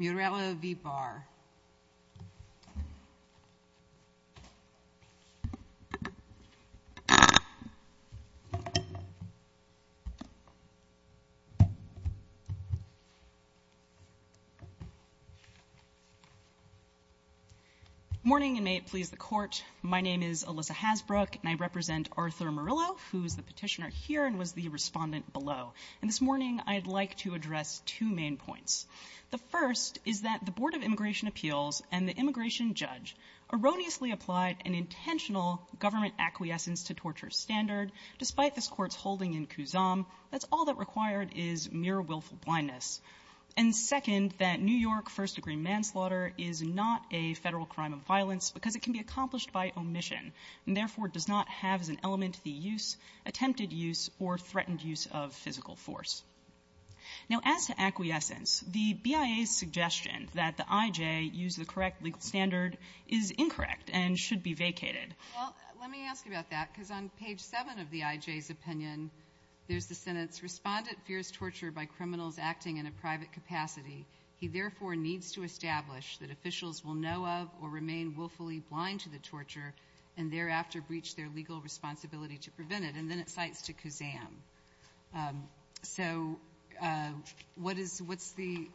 Muralo v. Barr. Morning and may it please the court. My name is Alyssa Hasbrook and I represent Arthur Murillo, who is the petitioner here and was the respondent below. And this morning I'd like to address two main points. The first is that the Board of Immigration Appeals and the immigration judge erroneously applied an intentional government acquiescence to torture standard. Despite this Court's holding in Kusum, that's all that required is mere willful blindness. And second, that New York first-degree manslaughter is not a Federal crime of violence because it can be accomplished by omission and therefore does not have as an element the use, attempted use, or threatened use of physical force. Now, as to acquiescence, the BIA's suggestion that the I.J. use the correct legal standard is incorrect and should be vacated. Well, let me ask about that because on page 7 of the I.J.'s opinion, there's the sentence, Respondent fears torture by criminals acting in a private capacity. He therefore needs to establish that officials will know of or remain willfully blind to the torture and thereafter breach their legal responsibility to prevent it, and then it cites to Kusum. So what is the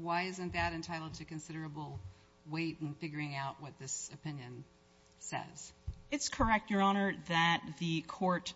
why isn't that entitled to considerable weight in figuring out what this opinion says? It's correct, Your Honor, that the Court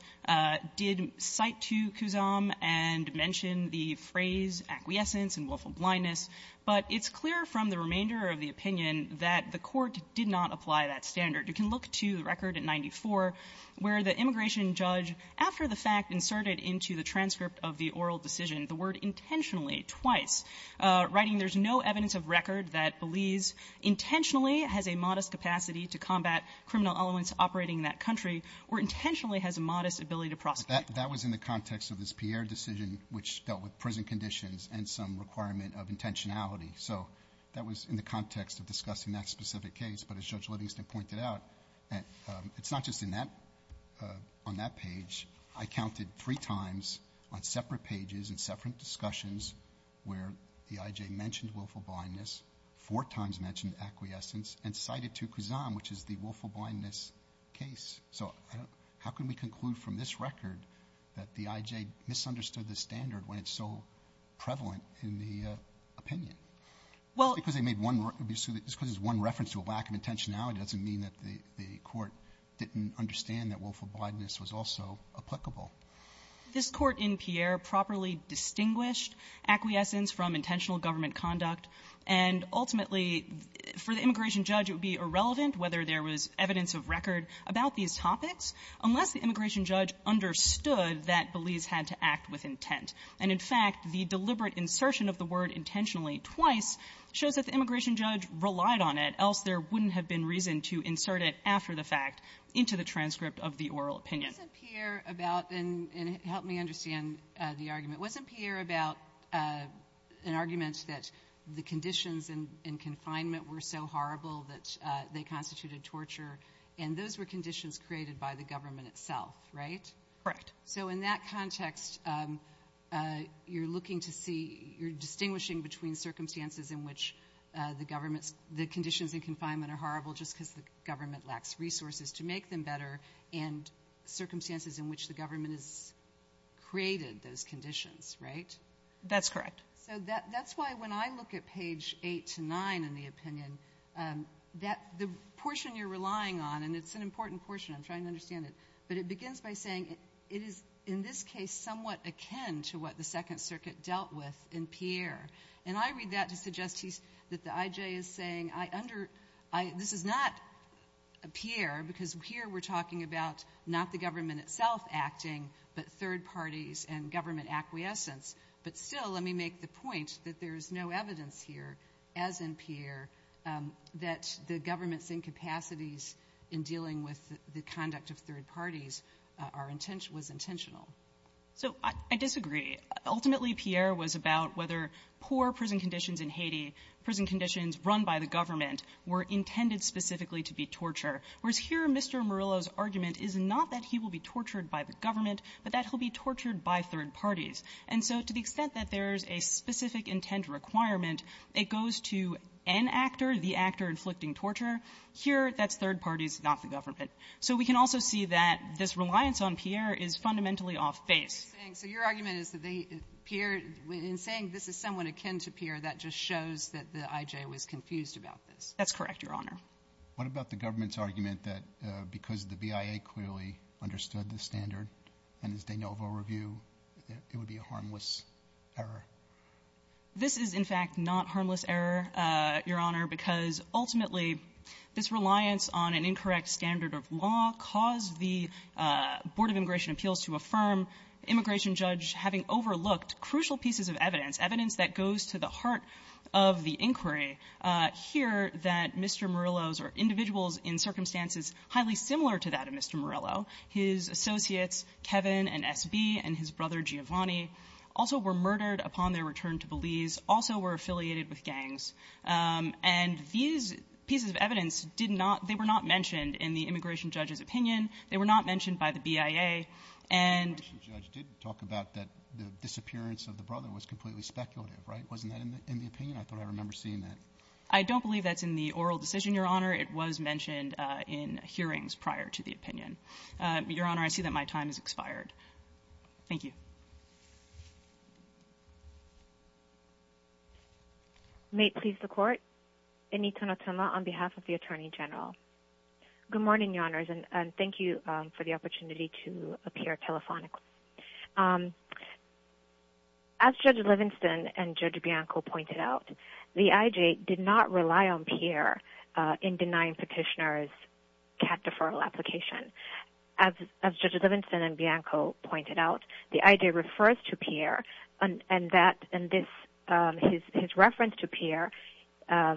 did cite to Kusum and mention the phrase acquiescence and willful blindness, but it's clear from the remainder of the opinion that the Court did not apply that standard. You can look to the record at 94, where the immigration judge, after the fact inserted into the transcript of the oral decision, the word intentionally twice, writing there's no evidence of record that Belize intentionally has a modest capacity to combat criminal elements operating in that country or intentionally has a modest ability to prosecute. That was in the context of this Pierre decision which dealt with prison conditions and some requirement of intentionality. So that was in the context of discussing that specific case. But as Judge Livingston pointed out, it's not just on that page. I counted three times on separate pages and separate discussions where the IJ mentioned willful blindness, four times mentioned acquiescence, and cited to Kusum, which is the willful blindness case. So how can we conclude from this record that the IJ misunderstood the standard when it's so prevalent in the opinion? Well It's because they made one reference to a lack of intentionality. It doesn't mean that the Court didn't understand that willful blindness was also applicable. This Court in Pierre properly distinguished acquiescence from intentional government conduct, and ultimately, for the immigration judge, it would be irrelevant whether there was evidence of record about these topics unless the immigration judge understood that Belize had to act with intent. And in fact, the deliberate insertion of the word intentionally twice shows that the immigration judge relied on it, else there wouldn't have been reason to insert it after the fact into the transcript of the oral opinion. Wasn't Pierre about, and help me understand the argument, wasn't Pierre about an argument that the conditions in confinement were so horrible that they constituted torture, and those were conditions created by the government itself, right? Correct. So in that context, you're looking to see, you're distinguishing between circumstances in which the government's, the conditions in confinement are horrible just because the government lacks resources to make them better, and circumstances in which the government has created those conditions, right? That's correct. So that's why when I look at page 8 to 9 in the opinion, that, the portion you're relying on, and it's an important portion, I'm trying to understand it, but it begins by saying it is, in this case, somewhat akin to what the Second Circuit dealt with in Pierre. And I read that to suggest that the IJ is saying, I under, this is not Pierre, because here we're talking about not the government itself acting, but third parties and government acquiescence. But still, let me make the point that there's no evidence here, as in Pierre, that the government's incapacities in dealing with the conduct of third parties are intentional, was intentional. So I disagree. Ultimately, Pierre was about whether poor prison conditions in Haiti, prison conditions run by the government, were intended specifically to be torture. Whereas here, Mr. Murillo's argument is not that he will be tortured by the government, but that he'll be tortured by third parties. And so to the extent that there's a specific intent requirement, it goes to an actor, the actor inflicting torture. Here, that's third parties, not the government. So we can also see that this reliance on Pierre is fundamentally off base. So your argument is that the Pierre, in saying this is somewhat akin to Pierre, that just shows that the IJ was confused about this. That's correct, Your Honor. What about the government's argument that because the BIA clearly understood this standard and this de novo review, that it would be a harmless error? This is, in fact, not harmless error, Your Honor, because ultimately, this reliance on an incorrect standard of law caused the Board of Immigration Appeals to affirm immigration judge having overlooked crucial pieces of evidence, evidence that goes to the heart of the inquiry, here that Mr. Murillo's or individuals in circumstances highly similar to that of Mr. Murillo, his associates, Kevin and S.B., and his brother Giovanni, also were murdered upon their return to Belize, also were affiliated with gangs. And these pieces of evidence did not they were not mentioned in the immigration judge's opinion. They were not mentioned by the BIA. And the immigration judge did talk about that the disappearance of the brother was completely speculative, right? Wasn't that in the opinion? I thought I remember seeing that. I don't believe that's in the oral decision, Your Honor. It was mentioned in hearings prior to the opinion. Your Honor, I see that my time has expired. Thank you. May it please the Court. Anita Notoma on behalf of the Attorney General. Good morning, Your Honors, and thank you for the opportunity to appear telephonically. As Judge Livingston and Judge Bianco pointed out, the IJ did not rely on Pierre in denying Petitioner's cat deferral application. As Judge Livingston and Bianco pointed out, the IJ refers to Pierre, and that in this, his reference to Pierre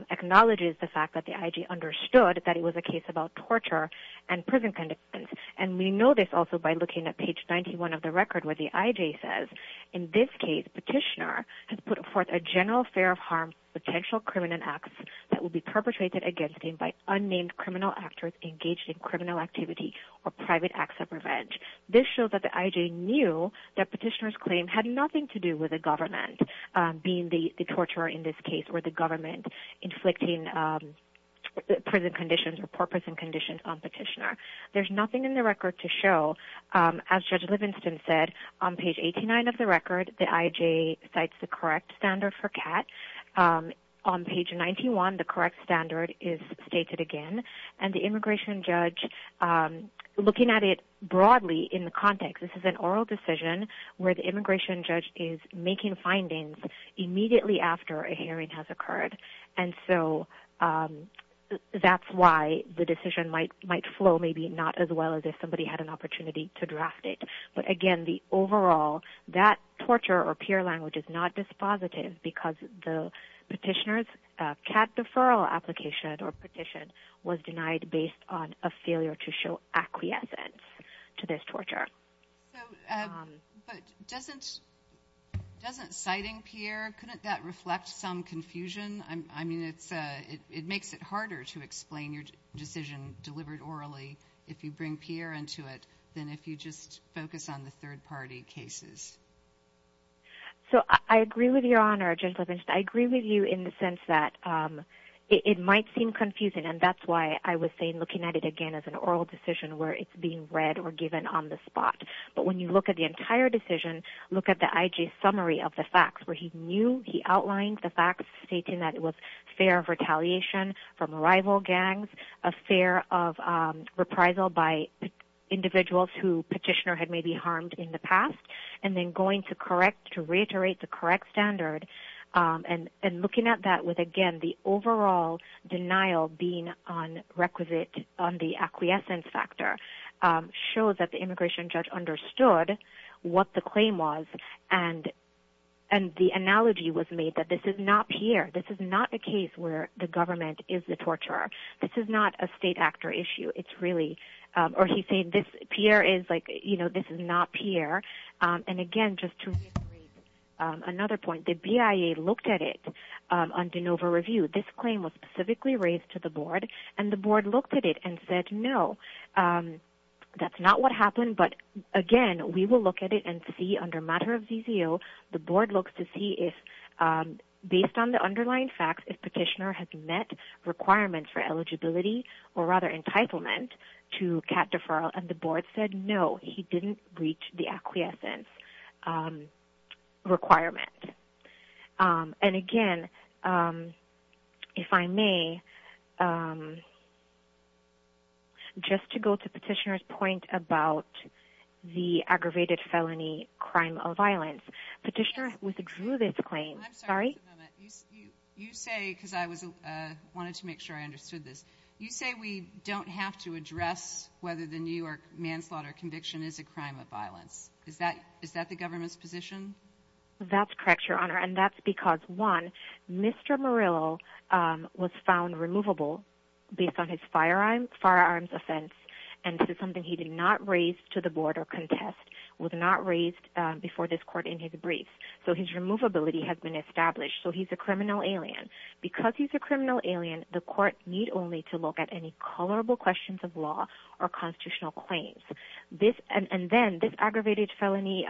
acknowledges the fact that the IJ understood that it was a case about torture and prison conditions. And we know this also by looking at page 91 of the record where the IJ says, in this case, Petitioner has put forth a general affair of harm potential and criminal acts that will be perpetrated against him by unnamed criminal actors engaged in criminal activity or private acts of revenge. This shows that the IJ knew that Petitioner's claim had nothing to do with the government being the torturer in this case, or the government inflicting prison conditions or poor prison conditions on Petitioner. There's nothing in the record to show, as Judge Livingston said, on page 89 of the record, the IJ cites the correct standard for cat. On page 91, the correct standard is stated again. And the immigration judge, looking at it broadly in the context, this is an oral decision where the immigration judge is making findings immediately after a hearing has occurred, and so that's why the decision might flow maybe not as well as if somebody had an opportunity to draft it. But again, the overall, that torture or Pierre language is not dispositive because the Petitioner's cat deferral application or petition was denied based on a failure to show acquiescence to this torture. So, but doesn't citing Pierre, couldn't that reflect some confusion? I mean, it makes it harder to explain your decision delivered orally if you bring Pierre into it than if you just focus on the third party cases. So I agree with your honor, Judge Livingston. I agree with you in the sense that it might seem confusing, and that's why I was saying looking at it again as an oral decision where it's being read or given on the spot. But when you look at the entire decision, look at the IJ summary of the facts where he knew, he outlined the facts stating that it was fear of retaliation from rival gangs, a fear of reprisal by individuals who Petitioner had maybe harmed in the past. And then going to correct, to reiterate the correct standard and looking at that with, again, the overall denial being on requisite, on the acquiescence factor shows that the immigration judge understood what the claim was and the analogy was made that this is not Pierre. This is not a case where the government is the torturer. This is not a state actor issue. It's really, or he said this Pierre is like, you know, this is not Pierre. And again, just to reiterate another point, the BIA looked at it on de novo review, this claim was specifically raised to the board and the board looked at it and said, no, that's not what happened. But again, we will look at it and see under matter of ZZO, the board looks to see if based on the underlying facts, if Petitioner has met requirements for eligibility or rather entitlement to cat deferral. And the board said, no, he didn't reach the acquiescence requirement. And again, if I may, just to go to Petitioner's point about the aggravated felony crime of violence, Petitioner withdrew this claim. I'm sorry. You say, cause I was, wanted to make sure I understood this. You say we don't have to address whether the New York manslaughter conviction is a crime of violence. Is that, is that the government's position? That's correct, your honor. And that's because one, Mr. Murillo was found removable based on his firearm, firearms offense. And this is something he did not raise to the board or contest was not raised before this court in his brief. So his removability has been established. So he's a criminal alien because he's a criminal alien. The court need only to look at any colorable questions of law or constitutional claims. This, and then this aggravated felony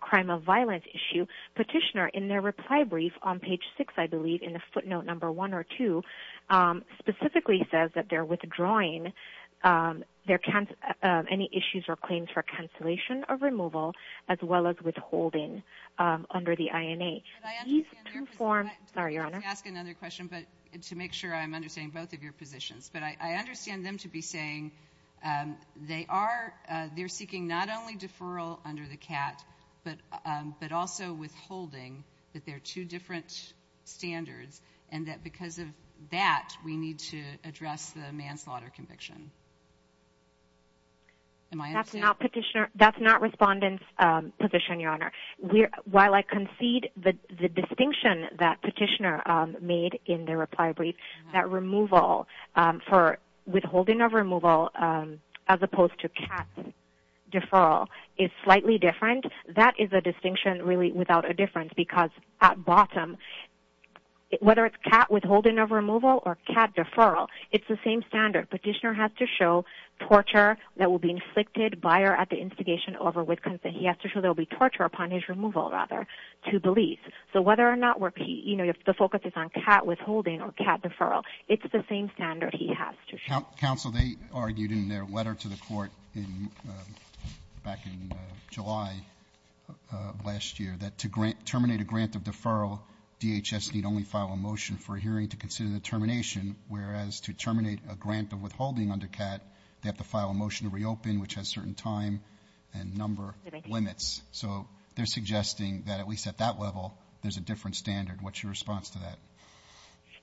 crime of violence issue Petitioner in their reply brief on page six, I believe in the footnote number one or two specifically says that they're withdrawing their, any issues or claims for cancellation of removal, as well as withholding under the INA. Sorry, your honor. Ask another question, but to make sure I'm understanding both of your positions, but I understand them to be saying, um, they are, uh, they're seeking not only deferral under the cat, but, um, but also withholding that there are two different standards. And that because of that, we need to address the manslaughter conviction. Am I, that's not petitioner. That's not respondents, um, position, your honor. While I concede that the distinction that petitioner, um, made in their reply brief, that removal, um, for withholding of removal, um, as opposed to cat deferral is slightly different. That is a distinction really without a difference because at bottom, whether it's cat withholding of removal or cat deferral, it's the same standard. Petitioner has to show torture that will be inflicted buyer at the investigation over with consent. He has to show there'll be torture upon his removal rather to believe. So whether or not we're, you know, if the focus is on cat withholding or cat deferral, it's the same standard he has to show. Counsel, they argued in their letter to the court in, um, back in July, uh, last year that to grant terminate a grant of deferral, DHS need only file a motion for hearing to consider the termination, whereas to terminate a grant of withholding under cat, they have to file a motion to reopen, which has certain time and number limits. So they're suggesting that at least at that level, there's a different standard. What's your response to that?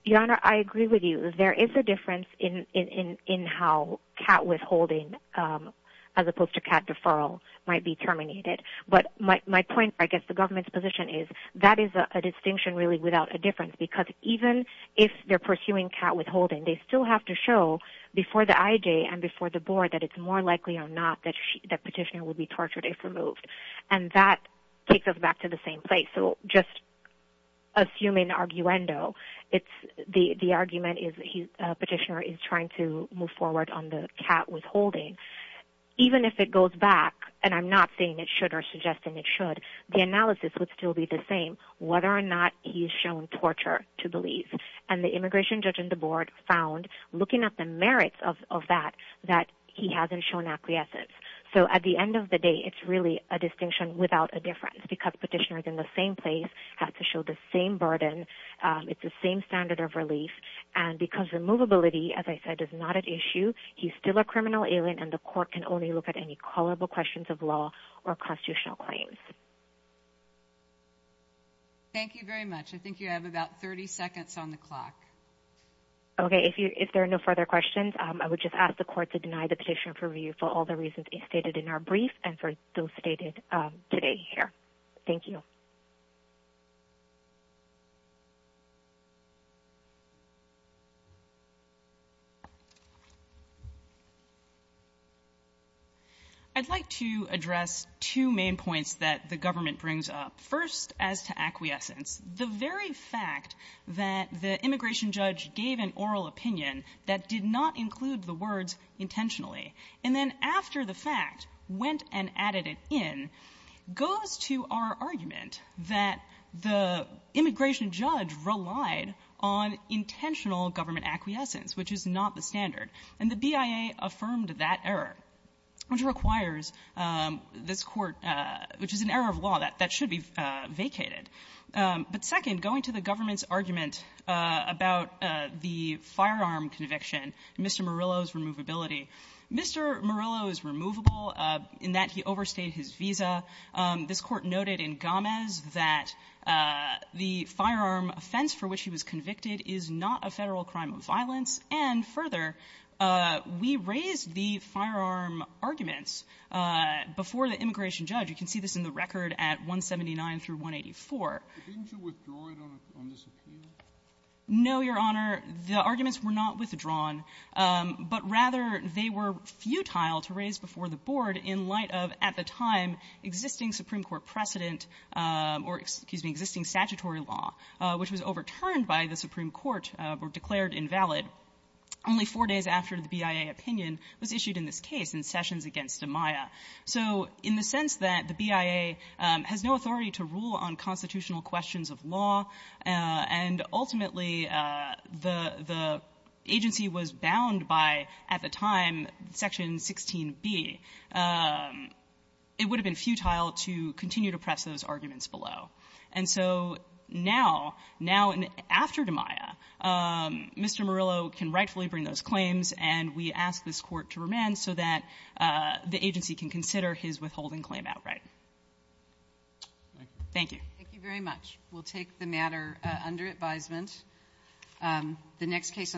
Your Honor, I agree with you. There is a difference in, in, in, in how cat withholding, um, as opposed to cat deferral might be terminated. But my point, I guess the government's position is that is a distinction really without a difference, because even if they're pursuing cat withholding, they still have to show before the IJ and before the board that it's more likely or not that she, that petitioner will be tortured if removed. And that takes us back to the same place. So just. Assuming arguendo it's the, the argument is he, uh, petitioner is trying to move forward on the cat withholding, even if it goes back and I'm not saying it should, or suggesting it should, the analysis would still be the same, whether or not he's shown torture to believe and the immigration judge and the board found looking at the merits of, of that, that he hasn't shown acquiescence. So at the end of the day, it's really a distinction without a difference because petitioners in the same place have to show the same burden. Um, it's the same standard of relief and because the movability, as I said, is not an issue, he's still a criminal alien and the court can only look at any callable questions of law or constitutional claims. Thank you very much. I think you have about 30 seconds on the clock. Okay. If you, if there are no further questions, um, I would just ask the court to deny the petition for review for all the reasons stated in our brief and for those stated, um, today here, thank you. I'd like to address two main points that the government brings up first as to that did not include the words intentionally. And then after the fact, went and added it in, goes to our argument that the immigration judge relied on intentional government acquiescence, which is not the standard. And the BIA affirmed that error, which requires, um, this Court, uh, which is an error of law that, that should be, uh, vacated. Um, but second, going to the government's argument, uh, about, uh, the firearm conviction, Mr. Murillo's removability. Mr. Murillo is removable, uh, in that he overstayed his visa. Um, this Court noted in Gomes that, uh, the firearm offense for which he was convicted is not a Federal crime of violence. And further, uh, we raised the firearm arguments, uh, before the immigration judge. You can see this in the record at 179 through 184. Didn't you withdraw it on this opinion? No, Your Honor. The arguments were not withdrawn. Um, but rather, they were futile to raise before the Board in light of, at the time, existing Supreme Court precedent, um, or, excuse me, existing statutory law, uh, which was overturned by the Supreme Court, uh, were declared invalid only four days after the BIA opinion was issued in this case in Sessions v. Amaya. So in the sense that the BIA, um, has no authority to rule on constitutional questions of law, uh, and ultimately, uh, the — the agency was bound by, at the time, Section 16b, um, it would have been futile to continue to press those arguments below. And so now, now and after Amaya, um, Mr. Murillo can rightfully bring those claims, and we ask this Court to remand so that, uh, the agency can consider his withholding claim outright. Thank you. Thank you very much. We'll take the matter, uh, under advisement.